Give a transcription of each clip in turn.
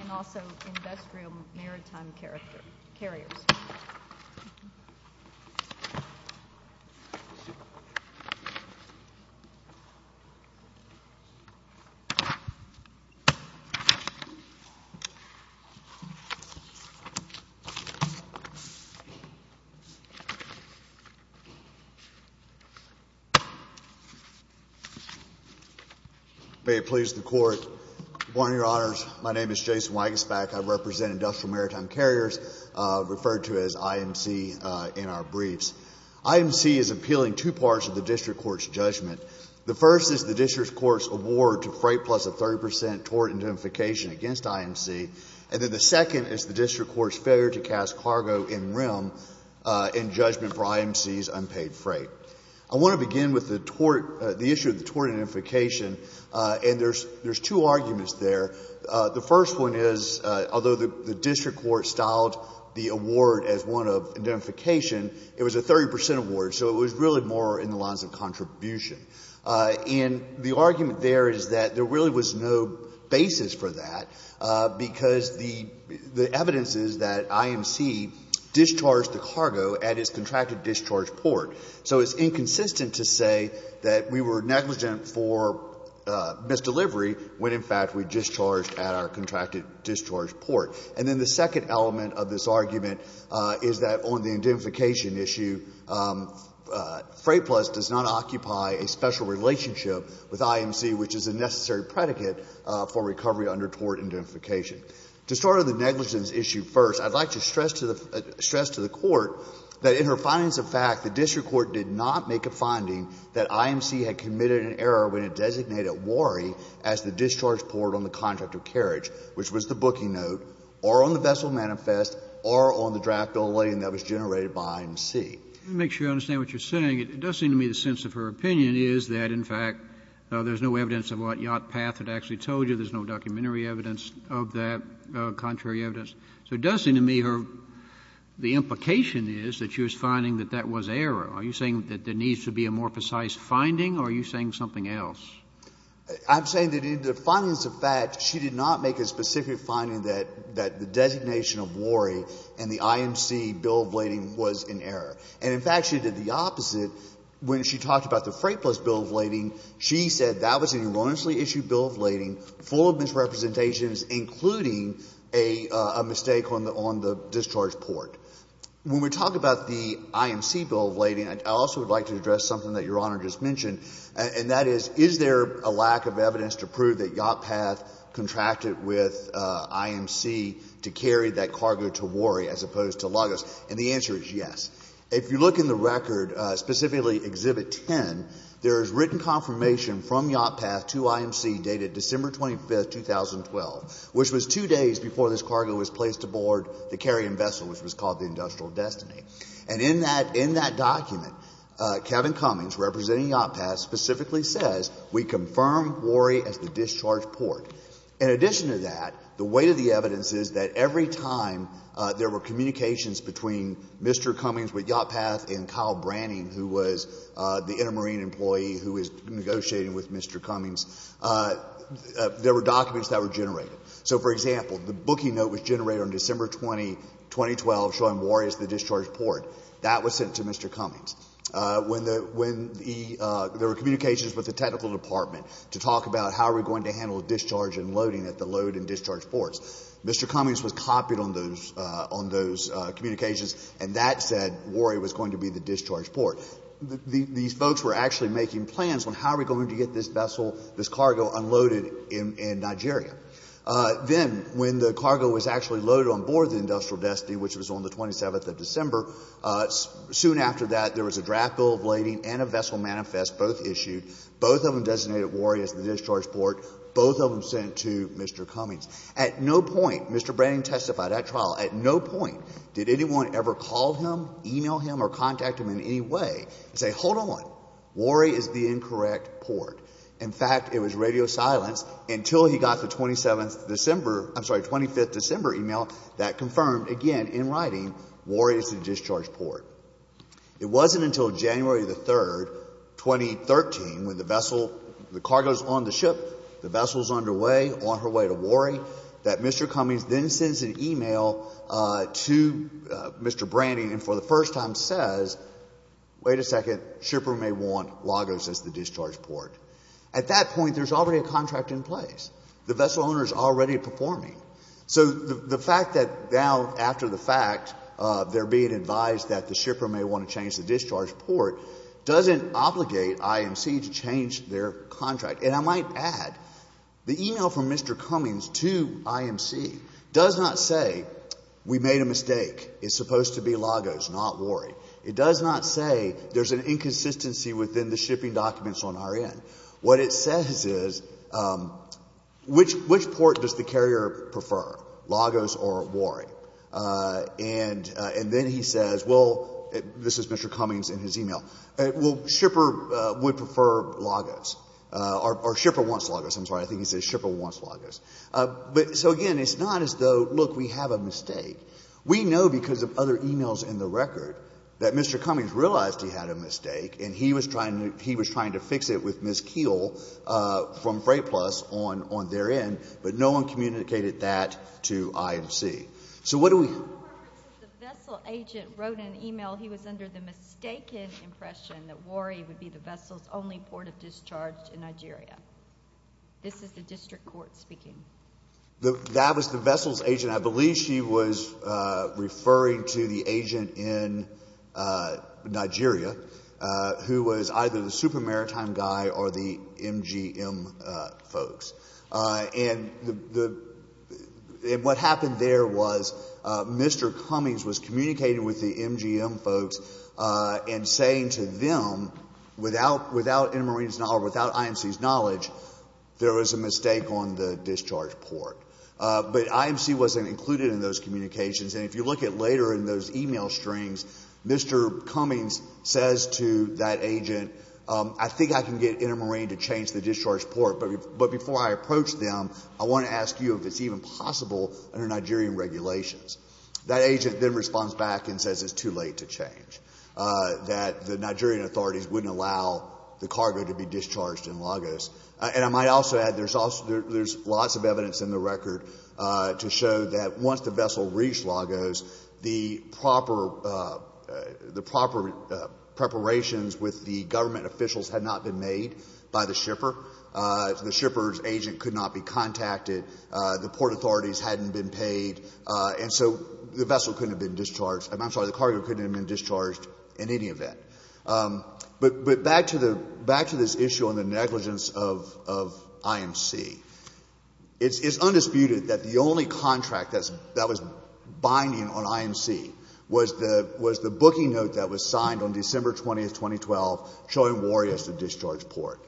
and also Industrial Maritime Carriers. May it please the Court, Your Honor, my name is Jason Weigenspach, I represent Industrial Maritime Carriers, referred to as IMC in our briefs. IMC is appealing two parts of the district court's judgment. The first is the district court's award to Freightplus a 30 percent tort indemnification against IMC. And then the second is the district court's failure to cast cargo in REM in judgment for IMC's unpaid freight. I want to begin with the tort, the issue of the tort indemnification, and there's two arguments there. The first one is, although the district court styled the award as one of indemnification, it was a 30 percent award, so it was really more in the lines of contribution. And the argument there is that there really was no basis for that, because the — the evidence is that IMC discharged the cargo at its contracted discharge port. So it's inconsistent to say that we were negligent for misdelivery when, in fact, we discharged at our contracted discharge port. And then the second element of this argument is that on the indemnification issue, Freightplus does not occupy a special relationship with IMC, which is a necessary predicate for recovery under tort indemnification. To start on the negligence issue first, I'd like to stress to the — stress to the court that in her findings of fact, the district court did not make a finding that IMC had committed an error when it designated Wharrie as the discharge port on the contract of carriage, which was the booking note, or on the vessel manifest, or on the draft billing that was generated by IMC. Kennedy. Let me make sure I understand what you're saying. It does seem to me the sense of her opinion is that, in fact, there's no evidence of what Yacht Path had actually told you. There's no documentary evidence of that, contrary evidence. So it does seem to me her — the implication is that she was finding that that was error. Are you saying that there needs to be a more precise finding, or are you saying something else? I'm saying that in the findings of fact, she did not make a specific finding that — that the designation of Wharrie and the IMC bill of lading was in error. And, in fact, she did the opposite. When she talked about the Freightplus bill of lading, she said that was an erroneously issued bill of lading full of misrepresentations, including a — a mistake on the — on the discharge port. When we talk about the IMC bill of lading, I also would like to address something that Your Honor just mentioned, and that is, is there a lack of evidence to prove that Yacht Path contracted with IMC to carry that cargo to Wharrie as opposed to Lagos? And the answer is yes. If you look in the record, specifically Exhibit 10, there is written confirmation from Yacht Path to IMC dated December 25, 2012, which was two days before this cargo was placed aboard the carrying vessel, which was called the Industrial Destiny. And in that — in that document, Kevin Cummings, representing Yacht Path, specifically says, we confirm Wharrie as the discharge port. In addition to that, the weight of the evidence is that every time there were communications between Mr. Cummings with Yacht Path and Kyle Branning, who was the intermarine employee who was negotiating with Mr. Cummings, there were documents that were generated. So, for example, the booking note was generated on December 20, 2012, showing Wharrie as the discharge port. That was sent to Mr. Cummings. When the — when the — there were communications with the technical department to talk about how are we going to handle discharge and loading at the load and discharge ports. Mr. Cummings was copied on those — on those communications, and that said Wharrie was going to be the discharge port. These folks were actually making plans on how are we going to get this vessel, this cargo unloaded in Nigeria. Then, when the cargo was actually loaded on board the Industrial Destiny, which was on the 27th of December, soon after that, there was a draft bill of lading and a vessel manifest, both issued. Both of them designated Wharrie as the discharge port. Both of them sent to Mr. Cummings. At no point, Mr. Branning testified at trial, at no point did anyone ever call him, e-mail him, or contact him in any way and say, hold on, Wharrie is the incorrect port. In fact, it was radio silence until he got the 27th of December — I'm sorry, 25th of December e-mail that confirmed, again, in writing, Wharrie is the discharge port. It wasn't until January the 3rd, 2013, when the vessel — the cargo is on the ship, the vessel is underway, on her way to Wharrie, that Mr. Cummings then sends an e-mail to Mr. Branning and for the first time says, wait a second, shipper may want Lagos as the discharge port. At that point, there's already a contract in place. The vessel owner is already performing. So the fact that now, after the fact, they're being advised that the shipper may want to change the discharge port doesn't obligate IMC to change their contract. And I might add, the e-mail from Mr. Cummings to IMC does not say, we made a mistake, it's supposed to be Lagos, not Wharrie. It does not say there's an inconsistency within the shipping documents on our end. What it says is, which port does the carrier prefer, Lagos or Wharrie? And then he says, well, this is Mr. Cummings in his e-mail, well, shipper would prefer Lagos, or shipper wants Lagos. I'm sorry, I think he said shipper wants Lagos. So, again, it's not as though, look, we have a mistake. We know because of other e-mails in the record that Mr. Cummings realized he had a mistake and he was trying to fix it with Ms. Keel from Freight Plus on their end, but no one communicated that to IMC. So what do we... The vessel agent wrote an e-mail, he was under the mistaken impression that Wharrie would be the vessel's only port of discharge in Nigeria. This is the district court speaking. That was the vessel's agent. I believe she was referring to the agent in Nigeria who was either the Super Maritime guy or the MGM folks. And what happened there was Mr. Cummings was communicating with the MGM folks and saying to them, without Intermarine's knowledge, without IMC's knowledge, there was a mistake on the discharge port. But IMC wasn't included in those communications. And if you look at later in those e-mail strings, Mr. Cummings says to that agent, I think I can get Intermarine to change the discharge port, but before I approach them, I want to ask you if it's even possible under Nigerian regulations. That agent then responds back and says it's too late to change, that the Nigerian authorities wouldn't allow the cargo to be discharged in Lagos. And I might also add there's lots of evidence in the record to show that once the vessel reached Lagos, the proper preparations with the government officials had not been made by the shipper. The shipper's agent could not be contacted. The port authorities hadn't been paid. And so the vessel couldn't have been discharged, I'm sorry, the cargo couldn't have been discharged in any event. But back to this issue on the negligence of IMC, it's undisputed that the only contract that was binding on IMC was the booking note that was signed on December 20, 2012, showing Warrie as the discharge port.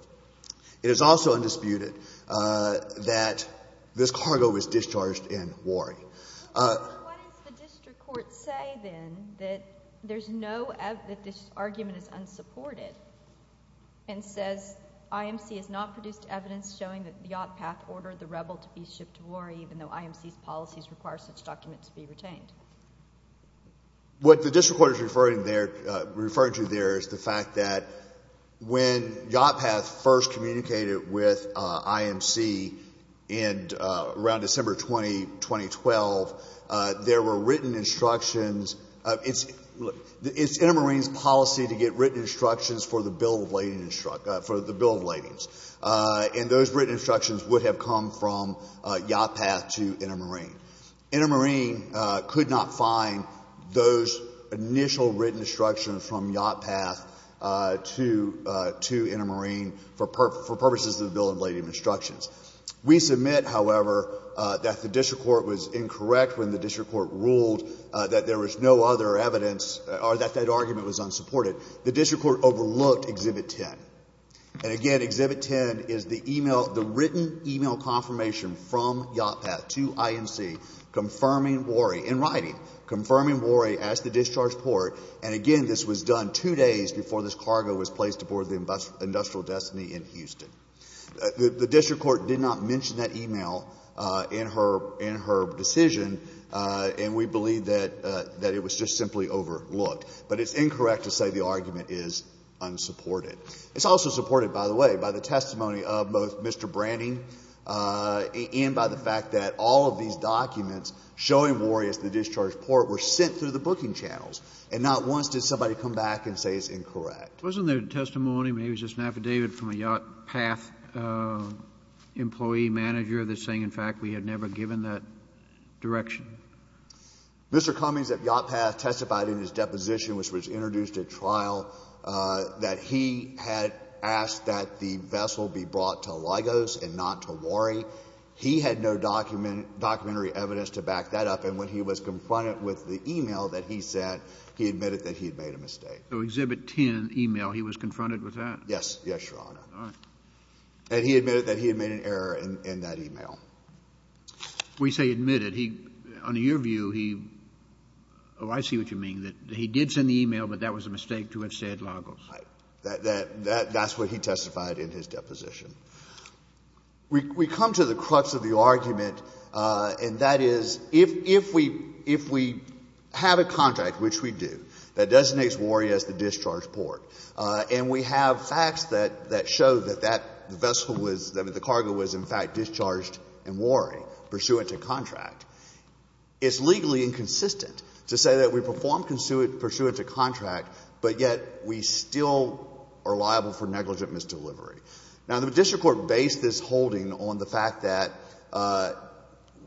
It is also undisputed that this cargo was discharged in Warrie. So what does the district court say then, that this argument is unsupported, and says IMC has not produced evidence showing that the Yacht Path ordered the rebel to be shipped to Warrie even though IMC's policies require such documents to be retained? What the district court is referring to there is the fact that when Yacht Path first communicated with IMC around December 20, 2012, there were written instructions. It's Intermarine's policy to get written instructions for the bill of ladings, and those written instructions would have come from Yacht Path to Intermarine. Intermarine could not find those initial written instructions from Yacht Path to Intermarine for purposes of the bill of lading instructions. We submit, however, that the district court was incorrect when the district court ruled that there was no other evidence or that that argument was unsupported. The district court overlooked Exhibit 10. And again, Exhibit 10 is the e-mail, the written e-mail confirmation from Yacht Path to IMC confirming Warrie, in writing, confirming Warrie as the discharge port, and again, this was done two days before this cargo was placed aboard the Industrial Destiny in Houston. The district court did not mention that e-mail in her decision, and we believe that it was just simply overlooked. But it's incorrect to say the argument is unsupported. It's also supported, by the way, by the testimony of both Mr. Branning and by the fact that all of these documents showing Warrie as the discharge port were sent through the booking channels. And not once did somebody come back and say it's incorrect. Wasn't there testimony, maybe it was just an affidavit from a Yacht Path employee manager that's saying, in fact, we had never given that direction? Mr. Cummings at Yacht Path testified in his deposition, which was introduced at trial, that he had asked that the vessel be brought to Lagos and not to Warrie. He had no document — documentary evidence to back that up. And when he was confronted with the e-mail that he sent, he admitted that he had made a mistake. So Exhibit 10 e-mail, he was confronted with that? Yes. Yes, Your Honor. All right. And he admitted that he had made an error in that e-mail. We say admitted. He — under your view, he — oh, I see what you mean, that he did send the e-mail, but that was a mistake to have said Lagos. That's what he testified in his deposition. We come to the crux of the argument, and that is, if we — if we have a contract, which we do, that designates Warrie as the discharge port, and we have facts that show that that vessel was — that the cargo was, in fact, discharged in Warrie pursuant to contract, it's legally inconsistent to say that we performed pursuant to contract, but yet we still are liable for negligent misdelivery. Now, the district court based this holding on the fact that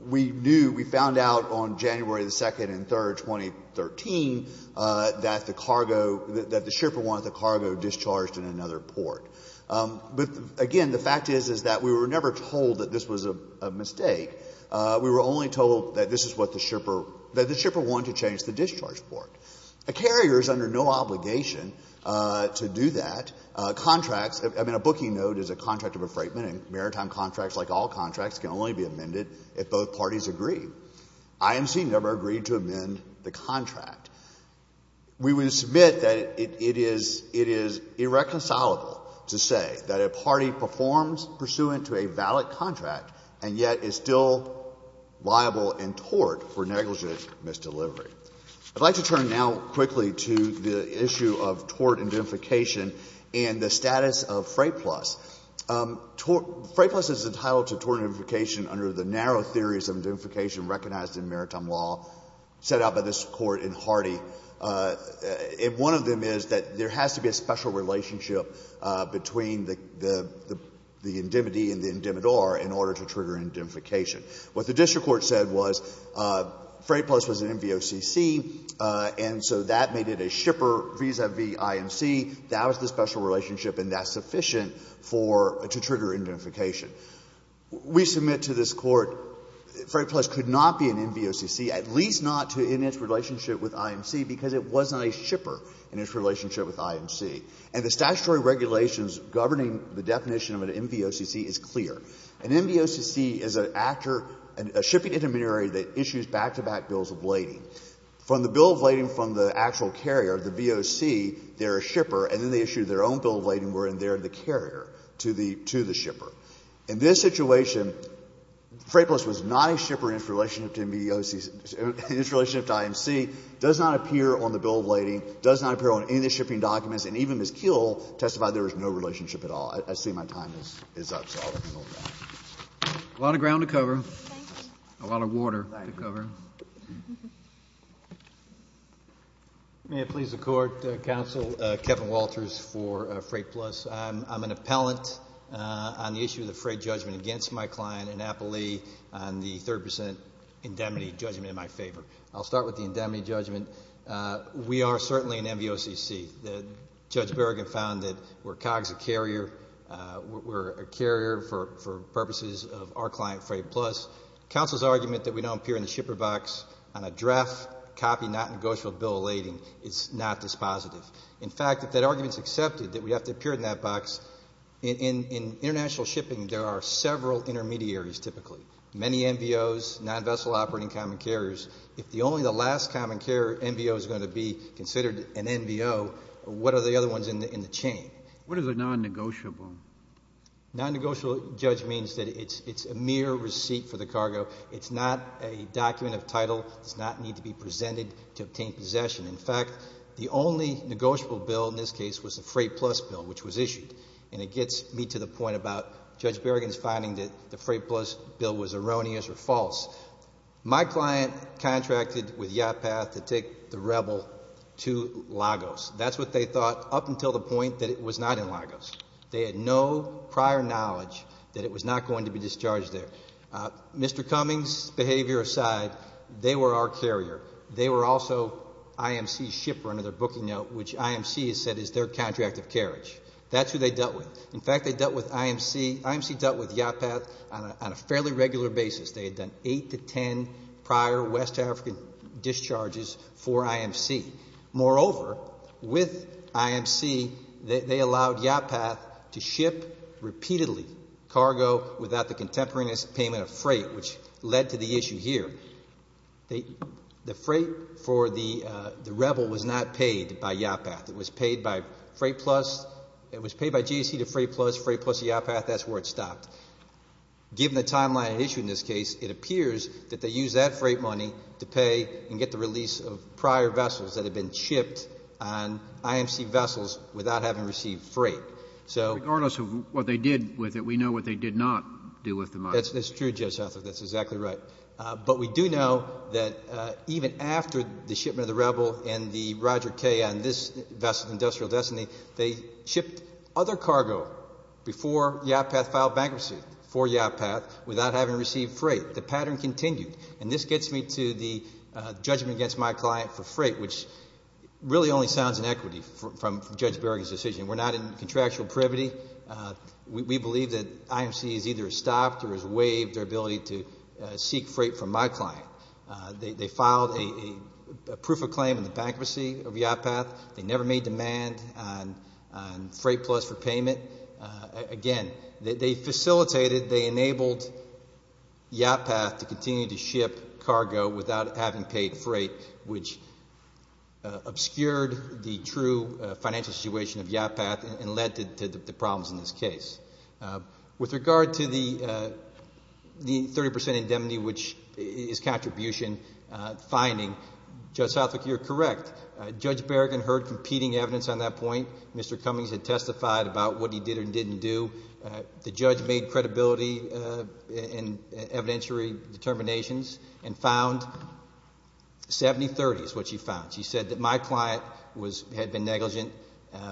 we knew — we found out on January the 2nd and 3rd, 2013, that the cargo — that the shipper wanted the cargo discharged in another port. But, again, the fact is, is that we were never told that this was a mistake. We were only told that this is what the shipper — that the shipper wanted to change the discharge port. A carrier is under no obligation to do that. Contracts — I mean, a booking note is a contract of refrainment, and maritime contracts, like all contracts, can only be amended if both parties agree. IMC never agreed to amend the contract. We would submit that it is — it is irreconcilable to say that a party performs pursuant to a valid contract, and yet is still liable in tort for negligent misdelivery. I'd like to turn now quickly to the issue of tort indemnification and the status of Freyplus. Freyplus is entitled to tort indemnification under the narrow theories of indemnification recognized in maritime law set out by this Court in Hardy. And one of them is that there has to be a special relationship between the indemnity and the indemnidor in order to trigger indemnification. What the district court said was Freyplus was an MVOCC, and so that made it a shipper vis-à-vis IMC. That was the special relationship, and that's sufficient for — to trigger indemnification. We submit to this Court, Freyplus could not be an MVOCC, at least not in its relationship with IMC, because it wasn't a shipper in its relationship with IMC. And the statutory regulations governing the definition of an MVOCC is clear. An MVOCC is an actor — a shipping intermediary that issues back-to-back bills of lading. From the bill of lading from the actual carrier, the VOC, they're a shipper, and then they issue their own bill of lading, wherein they're the carrier to the — to the shipper. In this situation, Freyplus was not a shipper in its relationship to MVOCC — in its relationship to IMC, does not appear on the bill of lading, does not appear on any of the shipping documents, and even Ms. Kuehl testified there was no relationship at all. I see my time is up, so I'll hand it over to you. A lot of ground to cover. Thank you. A lot of water to cover. Thank you. May it please the Court, Counsel, Kevin Walters for Freyplus. I'm an appellant on the issue of the Frey judgment against my client in Appalachia on the 30 percent indemnity judgment in my favor. I'll start with the indemnity judgment. We are certainly an MVOCC. We are certainly an MVOCC. We are certainly an MVOCC. We're a carrier for purposes of our client, Freyplus. Counsel's argument that we don't appear in the shipper box on a draft copy, non-negotiable bill of lading is not dispositive. In fact, if that argument is accepted, that we have to appear in that box, in international shipping, there are several intermediaries, typically — many MVOs, non-vessel operating common carriers. If only the last common carrier MVO is going to be considered an MVO, what are the other ones in the chain? What is a non-negotiable? Non-negotiable, Judge, means that it's a mere receipt for the cargo. It's not a document of title. It does not need to be presented to obtain possession. In fact, the only negotiable bill in this case was the Freyplus bill, which was issued. And it gets me to the point about Judge Berrigan's finding that the Freyplus bill was erroneous or false. My client contracted with Yacht Path to take the Rebel to Lagos. That's what they thought up until the point that it was not in Lagos. They had no prior knowledge that it was not going to be discharged there. Mr. Cummings' behavior aside, they were our carrier. They were also IMC's shiprunner, their booking note, which IMC has said is their contract of carriage. That's who they dealt with. In fact, they dealt with IMC — IMC dealt with Yacht Path on a fairly regular basis. They had done eight to ten prior West African discharges for IMC. Moreover, with IMC, they allowed Yacht Path to ship repeatedly cargo without the contemporary payment of freight, which led to the issue here. The freight for the Rebel was not paid by Yacht Path. It was paid by Freyplus. It was paid by GAC to Freyplus. Freyplus to Yacht Path. That's where it stopped. Given the timeline issued in this case, it appears that they used that freight money to pay and get the release of prior vessels that had been shipped on IMC vessels without having received freight. So — Regardless of what they did with it, we know what they did not do with the money. That's true, Judge Hathaway. That's exactly right. But we do know that even after the shipment of the Rebel and the Roger K on this vessel, Industrial Destiny, they shipped other cargo before Yacht Path filed bankruptcy for Yacht Path without having received freight. The pattern continued. And this gets me to the judgment against my client for freight, which really only sounds inequity from Judge Berrigan's decision. We're not in contractual privity. We believe that IMC has either stopped or has waived their ability to seek freight from my client. They filed a proof of claim in the bankruptcy of Yacht Path. They never made demand on Freyplus for payment. Again, they facilitated, they enabled Yacht Path to continue to ship cargo without having paid freight, which obscured the true financial situation of Yacht Path and led to the problems in this case. With regard to the 30 percent indemnity, which is contribution finding, Judge Hathaway, you're correct. Judge Berrigan heard competing evidence on that point. Mr. Cummings had testified about what he did or didn't do. The judge made credibility and evidentiary determinations and found 70-30 is what she found. She said that my client was, had been negligent,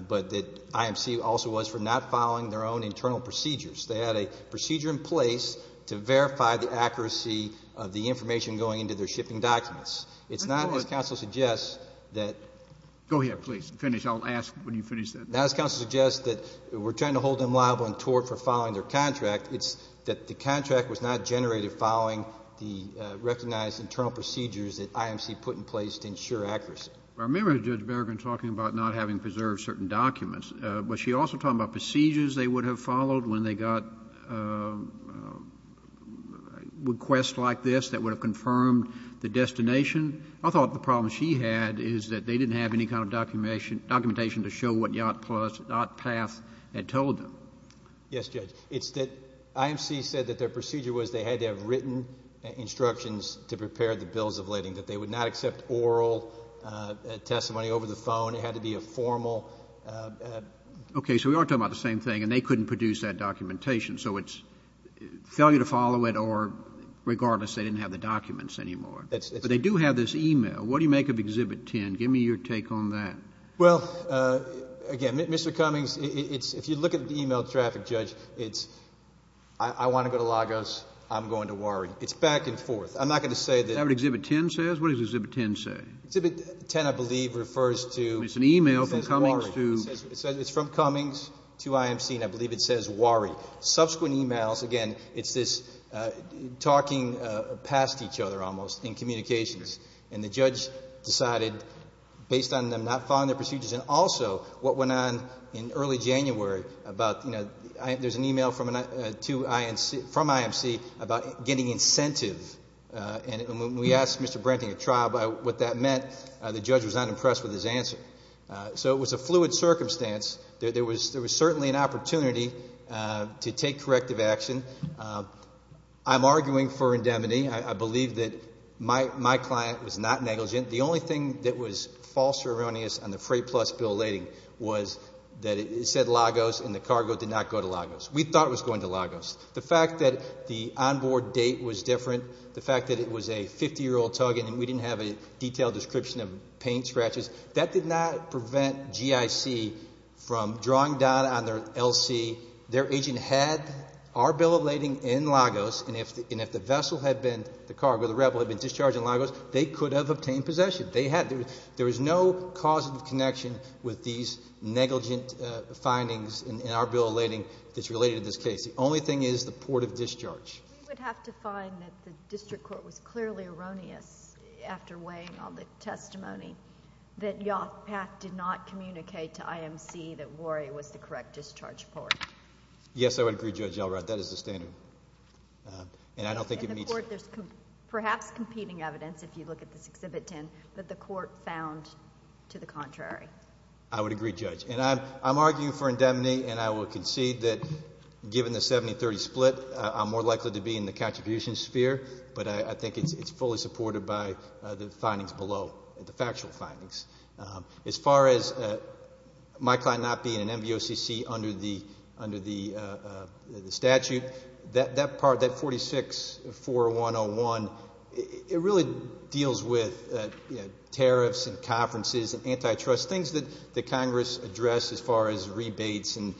but that IMC also was for not following their own internal procedures. They had a procedure in place to verify the accuracy of the information going into their shipping documents. It's not, as counsel suggests, that... Go ahead, please. Finish. I'll ask when you finish that. Now, as counsel suggests, that we're trying to hold them liable in tort for following their contract. It's that the contract was not generated following the recognized internal procedures that IMC put in place to ensure accuracy. I remember Judge Berrigan talking about not having preserved certain documents, but she also talked about procedures they would have followed when they got requests like this that would have confirmed the destination. I thought the problem she had is that they didn't have any kind of documentation to show what Yacht Path had told them. Yes, Judge. It's that IMC said that their procedure was they had to have written instructions to prepare the bills of lading, that they would not accept oral testimony over the phone. It had to be a formal... Okay. So we are talking about the same thing, and they couldn't produce that documentation. So it's failure to follow it or, regardless, they didn't have the documents anymore. But they do have this e-mail. What do you make of Exhibit 10? Give me your take on that. Well, again, Mr. Cummings, it's — if you look at the e-mail traffic, Judge, it's I want to go to Lagos, I'm going to Wari. It's back and forth. I'm not going to say that... Is that what Exhibit 10 says? What does Exhibit 10 say? Exhibit 10, I believe, refers to... It's an e-mail from Cummings to... It says Wari. It says it's from Cummings to IMC, and I believe it says Wari. Subsequent e-mails, again, it's this talking past each other, almost, in communications, and the judge decided, based on them not following their procedures, and also what went on in early January about, you know, there's an e-mail from IMC about getting incentive. And when we asked Mr. Brenting at trial what that meant, the judge was not impressed with his answer. So it was a fluid circumstance. There was certainly an opportunity to take corrective action. I'm arguing for indemnity. I believe that my client was not negligent. The only thing that was false or erroneous on the Freight Plus bill lading was that it said Lagos, and the cargo did not go to Lagos. We thought it was going to Lagos. The fact that the onboard date was different, the fact that it was a 50-year-old tug, and we didn't have a detailed description of paint scratches, that did not prevent GIC from drawing down on their LC. Their agent had our bill of lading in Lagos, and if the vessel had been, the cargo, the rebel had been discharged in Lagos, they could have obtained possession. They had. There was no causative connection with these negligent findings in our bill of lading that's related to this case. The only thing is the port of discharge. We would have to find that the district court was clearly erroneous, after weighing all the testimony, that Yoff-Pak did not communicate to IMC that Wary was the correct discharge port. Yes, I would agree, Judge Elrod. That is the standard. And I don't think it meets... In the court, there's perhaps competing evidence, if you look at this Exhibit 10, that the court found to the contrary. I would agree, Judge. And I'm arguing for indemnity, and I will concede that given the 70-30 split, I'm more likely to be in the contribution sphere, but I think it's fully supported by the findings below, the factual findings. As far as my client not being an MVOCC under the statute, that part, that 46-4101, it really deals with tariffs and conferences and antitrust, things that Congress addressed as far as rebates. And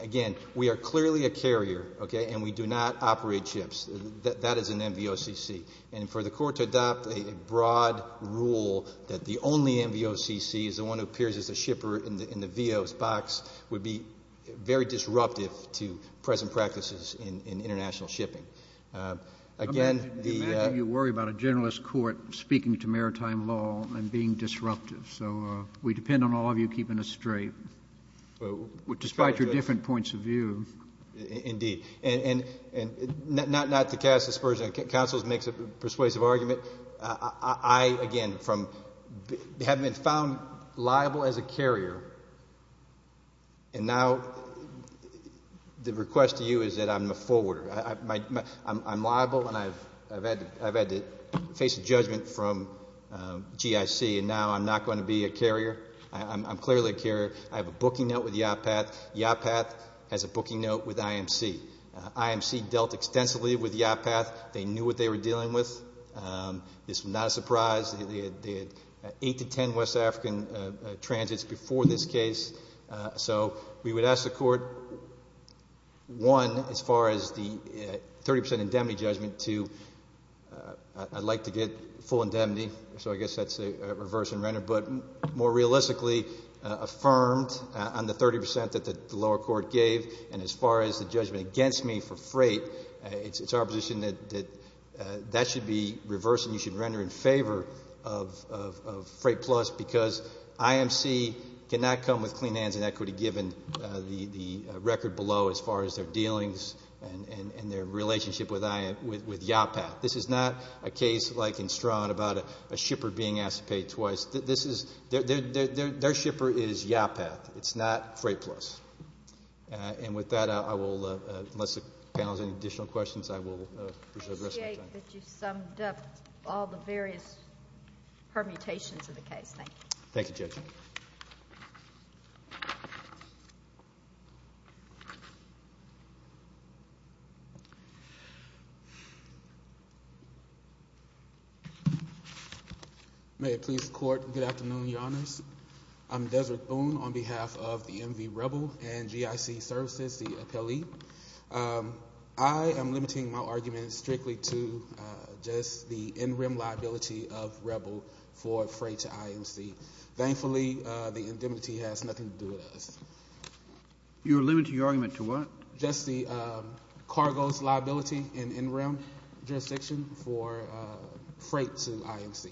again, we are clearly a carrier, okay, and we do not operate ships. That is an MVOCC. And for the court to adopt a broad rule that the only MVOCC is the one who appears as a shipper in the VO's box would be very disruptive to present practices in international shipping. I imagine you worry about a generalist court speaking to maritime law and being disruptive, so we depend on all of you keeping us straight, despite your different points of view. Indeed. And not to cast aspersions on counsel's persuasive argument, I, again, have been found liable as a carrier, and now the request to you is that I'm a forwarder. I'm liable, and I've had to face a judgment from GIC, and now I'm not going to be a carrier. I'm clearly a carrier. I have a booking note with YATPAT. YATPAT has a booking note with IMC. IMC dealt extensively with YATPAT. They knew what they were dealing with. This was not a surprise. They had eight to ten West African transits before this case. So we would ask the court, one, as far as the 30% indemnity judgment, two, I'd like to get full indemnity, so I guess that's a reverse in render, but more realistically affirmed on the 30% that the lower court gave, and as far as the judgment against me for freight, it's our position that that should be reversed and you should render in favor of Freight Plus because IMC cannot come with clean hands and equity given the record below as far as their dealings and their relationship with YATPAT. This is not a case like in Strawn about a shipper being asked to pay twice. Their shipper is YATPAT. It's not Freight Plus. And with that, I will, unless the panel has any additional questions, I will reserve the rest of my time. I appreciate that you summed up all the various permutations of the case. Thank you. Thank you, Judge. May it please the Court, good afternoon, Your Honors. I'm Deseret Boone on behalf of the NV Rebel and GIC Services, the appellee. I am limiting my argument strictly to just the in-rim liability of Rebel for freight to IMC. Thankfully, the indemnity has nothing to do with us. You're limiting your argument to what? Just the cargo's liability in in-rim jurisdiction for freight to IMC.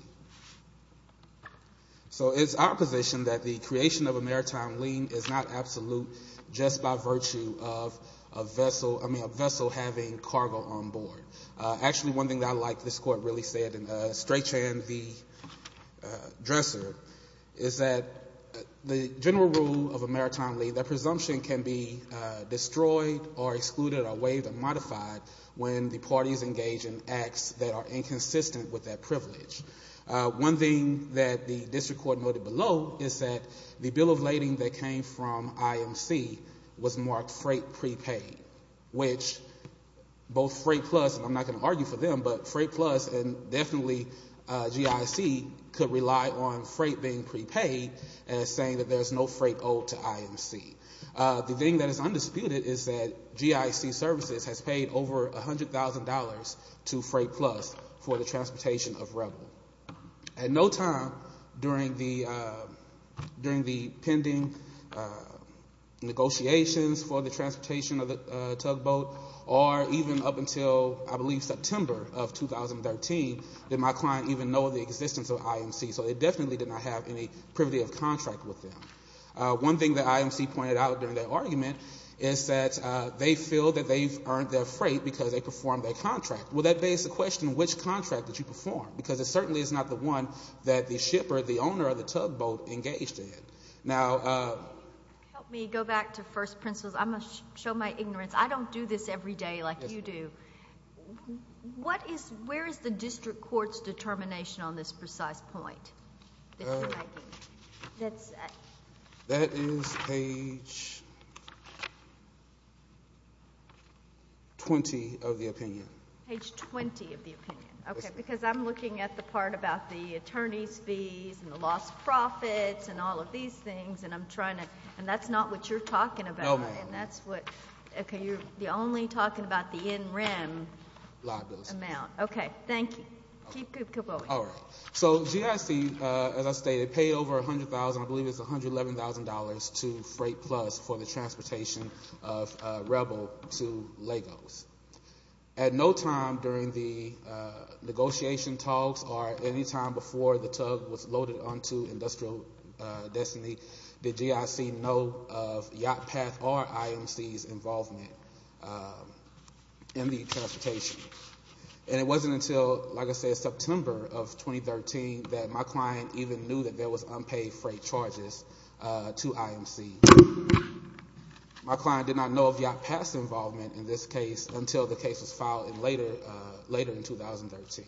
So it's our position that the creation of a maritime lien is not absolute just by virtue of a vessel, I mean, a vessel having cargo on board. Actually, one thing that I like this Court really said in Straychan v. Dresser is that the general rule of a maritime lien, that presumption can be destroyed or excluded or waived or modified when the parties engage in acts that are inconsistent with that privilege. One thing that the district court noted below is that the bill of lading that came from IMC was marked freight prepaid, which both Freight Plus, and I'm not going to argue for them, but Freight Plus and definitely GIC could rely on freight being prepaid as saying that there is no freight owed to IMC. The thing that is undisputed is that GIC services has paid over $100,000 to Freight Plus for the transportation of Rebel. At no time during the pending negotiations for the transportation of the tugboat or even up until, I believe, September of 2013 did my client even know of the existence of IMC. So they definitely did not have any privity of contract with them. One thing that IMC pointed out during their argument is that they feel that they've earned their freight because they performed their contract. Well, that begs the question, which contract did you perform? Because it certainly is not the one that the shipper, the owner of the tugboat, engaged in. Now – Help me go back to first principles. I'm going to show my ignorance. I don't do this every day like you do. What is – where is the district court's determination on this precise point? That is page 20 of the opinion. Page 20 of the opinion. Okay. Because I'm looking at the part about the attorney's fees and the lost profits and all of these things, and I'm trying to – and that's not what you're talking about. No, ma'am. And that's what – okay, you're only talking about the NREM amount. Okay. Thank you. Keep going. All right. So GIC, as I stated, paid over $100,000 – I believe it was $111,000 to Freight Plus for the transportation of Rebel to Lagos. At no time during the negotiation talks or any time before the tug was loaded onto Industrial Destiny did GIC know of Yacht Path or IMC's involvement in the transportation. And it wasn't until, like I said, September of 2013 that my client even knew that there was unpaid freight charges to IMC. My client did not know of Yacht Path's involvement in this case until the case was filed later in 2013.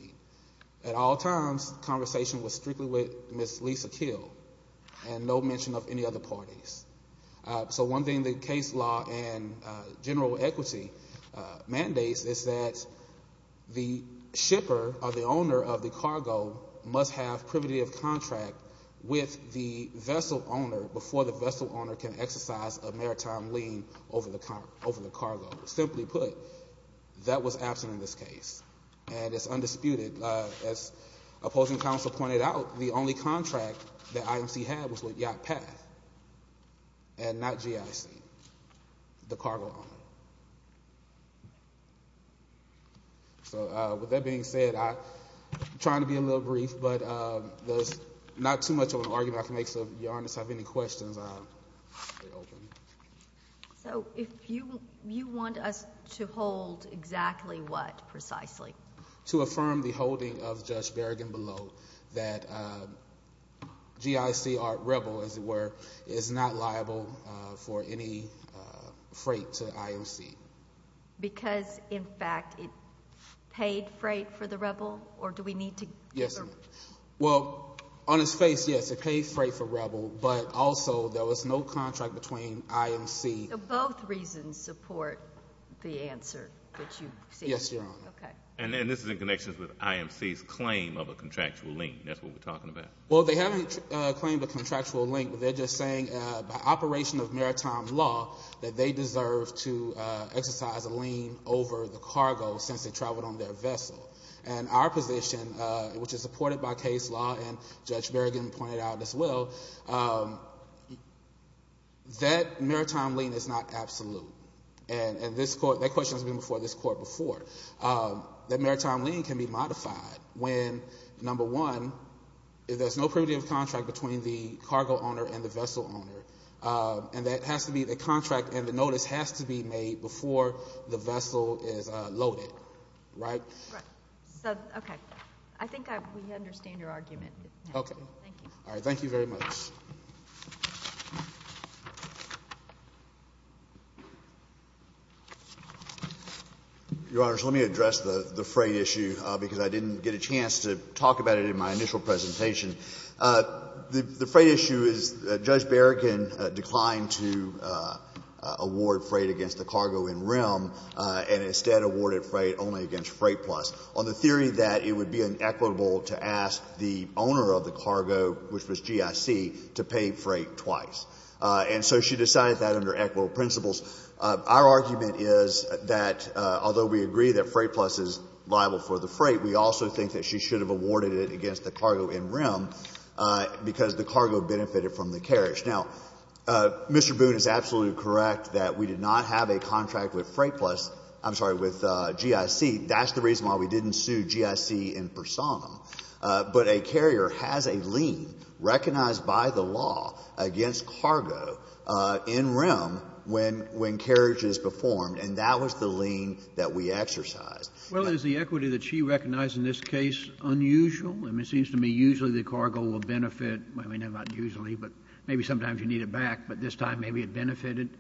At all times, the conversation was strictly with Ms. Lisa Keel and no mention of any other parties. So one thing the case law and general equity mandates is that the shipper or the owner of the cargo must have privative contract with the vessel owner before the vessel owner can exercise a maritime lien over the cargo. Simply put, that was absent in this case, and it's undisputed. As opposing counsel pointed out, the only contract that IMC had was with Yacht Path and not GIC, the cargo owner. So with that being said, I'm trying to be a little brief, but there's not too much of an argument I can make, so if you have any questions, I'll be open. So if you want us to hold exactly what precisely? To affirm the holding of Judge Berrigan-Below that GIC or Rebel, as it were, is not liable for any freight to IMC. Because, in fact, it paid freight for the Rebel, or do we need to? Yes, ma'am. Well, on its face, yes, it paid freight for Rebel, but also there was no contract between IMC. So both reasons support the answer that you seek. Yes, Your Honor. Okay. And this is in connection with IMC's claim of a contractual lien. That's what we're talking about. Well, they haven't claimed a contractual lien. They're just saying by operation of maritime law that they deserve to exercise a lien over the cargo since it traveled on their vessel. And our position, which is supported by case law, and Judge Berrigan pointed out as well, that maritime lien is not absolute. And that question has been before this Court before. That maritime lien can be modified when, number one, there's no primitive contract between the cargo owner and the vessel owner, and the contract and the notice has to be made before the vessel is loaded. Right? Right. Okay. I think we understand your argument. Okay. Thank you. All right. Thank you very much. Your Honors, let me address the freight issue because I didn't get a chance to talk about it in my initial presentation. The freight issue is that Judge Berrigan declined to award freight against the cargo in RIM and instead awarded freight only against Freight Plus. On the theory that it would be inequitable to ask the owner of the cargo, which was GIC, to pay freight twice. And so she decided that under equitable principles. Our argument is that although we agree that Freight Plus is liable for the freight, we also think that she should have awarded it against the cargo in RIM because the cargo benefited from the carriage. Now, Mr. Boone is absolutely correct that we did not have a contract with Freight Plus — I'm sorry, with GIC. That's the reason why we didn't sue GIC in personam. But a carrier has a lien recognized by the law against cargo in RIM when carriage is performed, and that was the lien that we exercised. Well, is the equity that she recognized in this case unusual? I mean, it seems to me usually the cargo will benefit. I mean, not usually, but maybe sometimes you need it back, but this time maybe it benefited.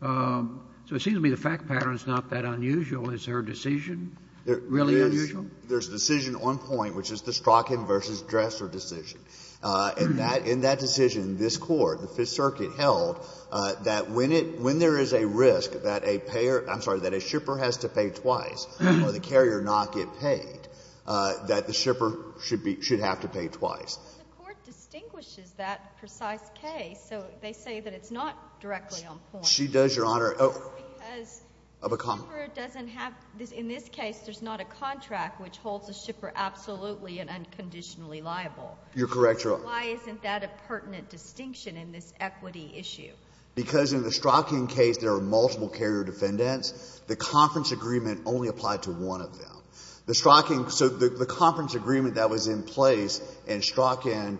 So it seems to me the fact pattern is not that unusual. Is her decision really unusual? There's a decision on point, which is the Strachan v. Dresser decision. In that decision, this Court, the Fifth Circuit, held that when it — when there is a risk that a payer — I'm sorry, that a shipper has to pay twice or the carrier not get paid, that the shipper should be — should have to pay twice. But the Court distinguishes that precise case, so they say that it's not directly on point. She does, Your Honor. It's because the shipper doesn't have — in this case, there's not a contract which holds the shipper absolutely and unconditionally liable. You're correct, Your Honor. Why isn't that a pertinent distinction in this equity issue? Because in the Strachan case, there are multiple carrier defendants. The conference agreement only applied to one of them. The Strachan — so the conference agreement that was in place in Strachan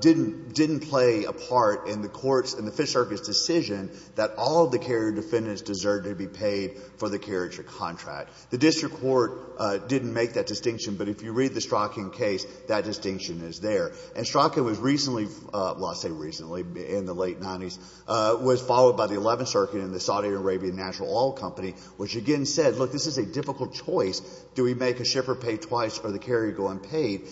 didn't play a part in the Court's — in the Fifth Circuit's decision that all of the carrier defendants deserved to be paid for the carrier contract. The district court didn't make that distinction, but if you read the Strachan case, that distinction is there. And Strachan was recently — well, I say recently, in the late 90s — was followed by the Eleventh Circuit and the Saudi Arabian Natural Oil Company, which again said, look, this is a difficult choice. Do we make a shipper pay twice or the carrier go unpaid?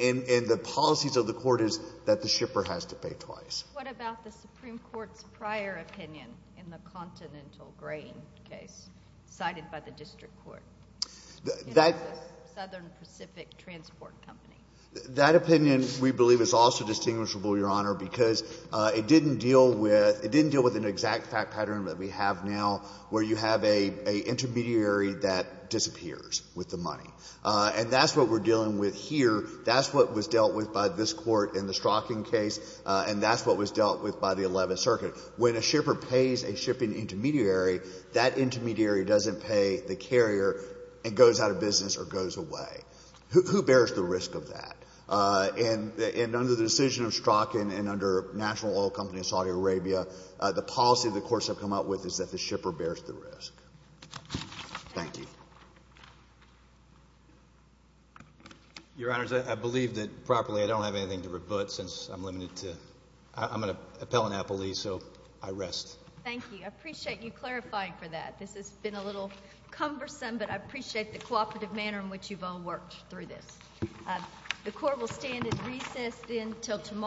And the policies of the Court is that the shipper has to pay twice. What about the Supreme Court's prior opinion in the Continental Grain case cited by the district court, Southern Pacific Transport Company? That opinion, we believe, is also distinguishable, Your Honor, because it didn't deal with — it didn't deal with an exact fact pattern that we have now where you have an intermediary that disappears with the money. And that's what we're dealing with here. That's what was dealt with by this Court in the Strachan case, and that's what was dealt with by the Eleventh Circuit. When a shipper pays a shipping intermediary, that intermediary doesn't pay the carrier and goes out of business or goes away. Who bears the risk of that? And under the decision of Strachan and under National Oil Company of Saudi Arabia, the policy of the courts have come out with is that the shipper bears the risk. Thank you. Your Honors, I believe that, properly, I don't have anything to rebut since I'm going to appellanapple these, so I rest. Thank you. I appreciate you clarifying for that. This has been a little cumbersome, but I appreciate the cooperative manner in which you've all worked through this. The Court will stand at recess until tomorrow.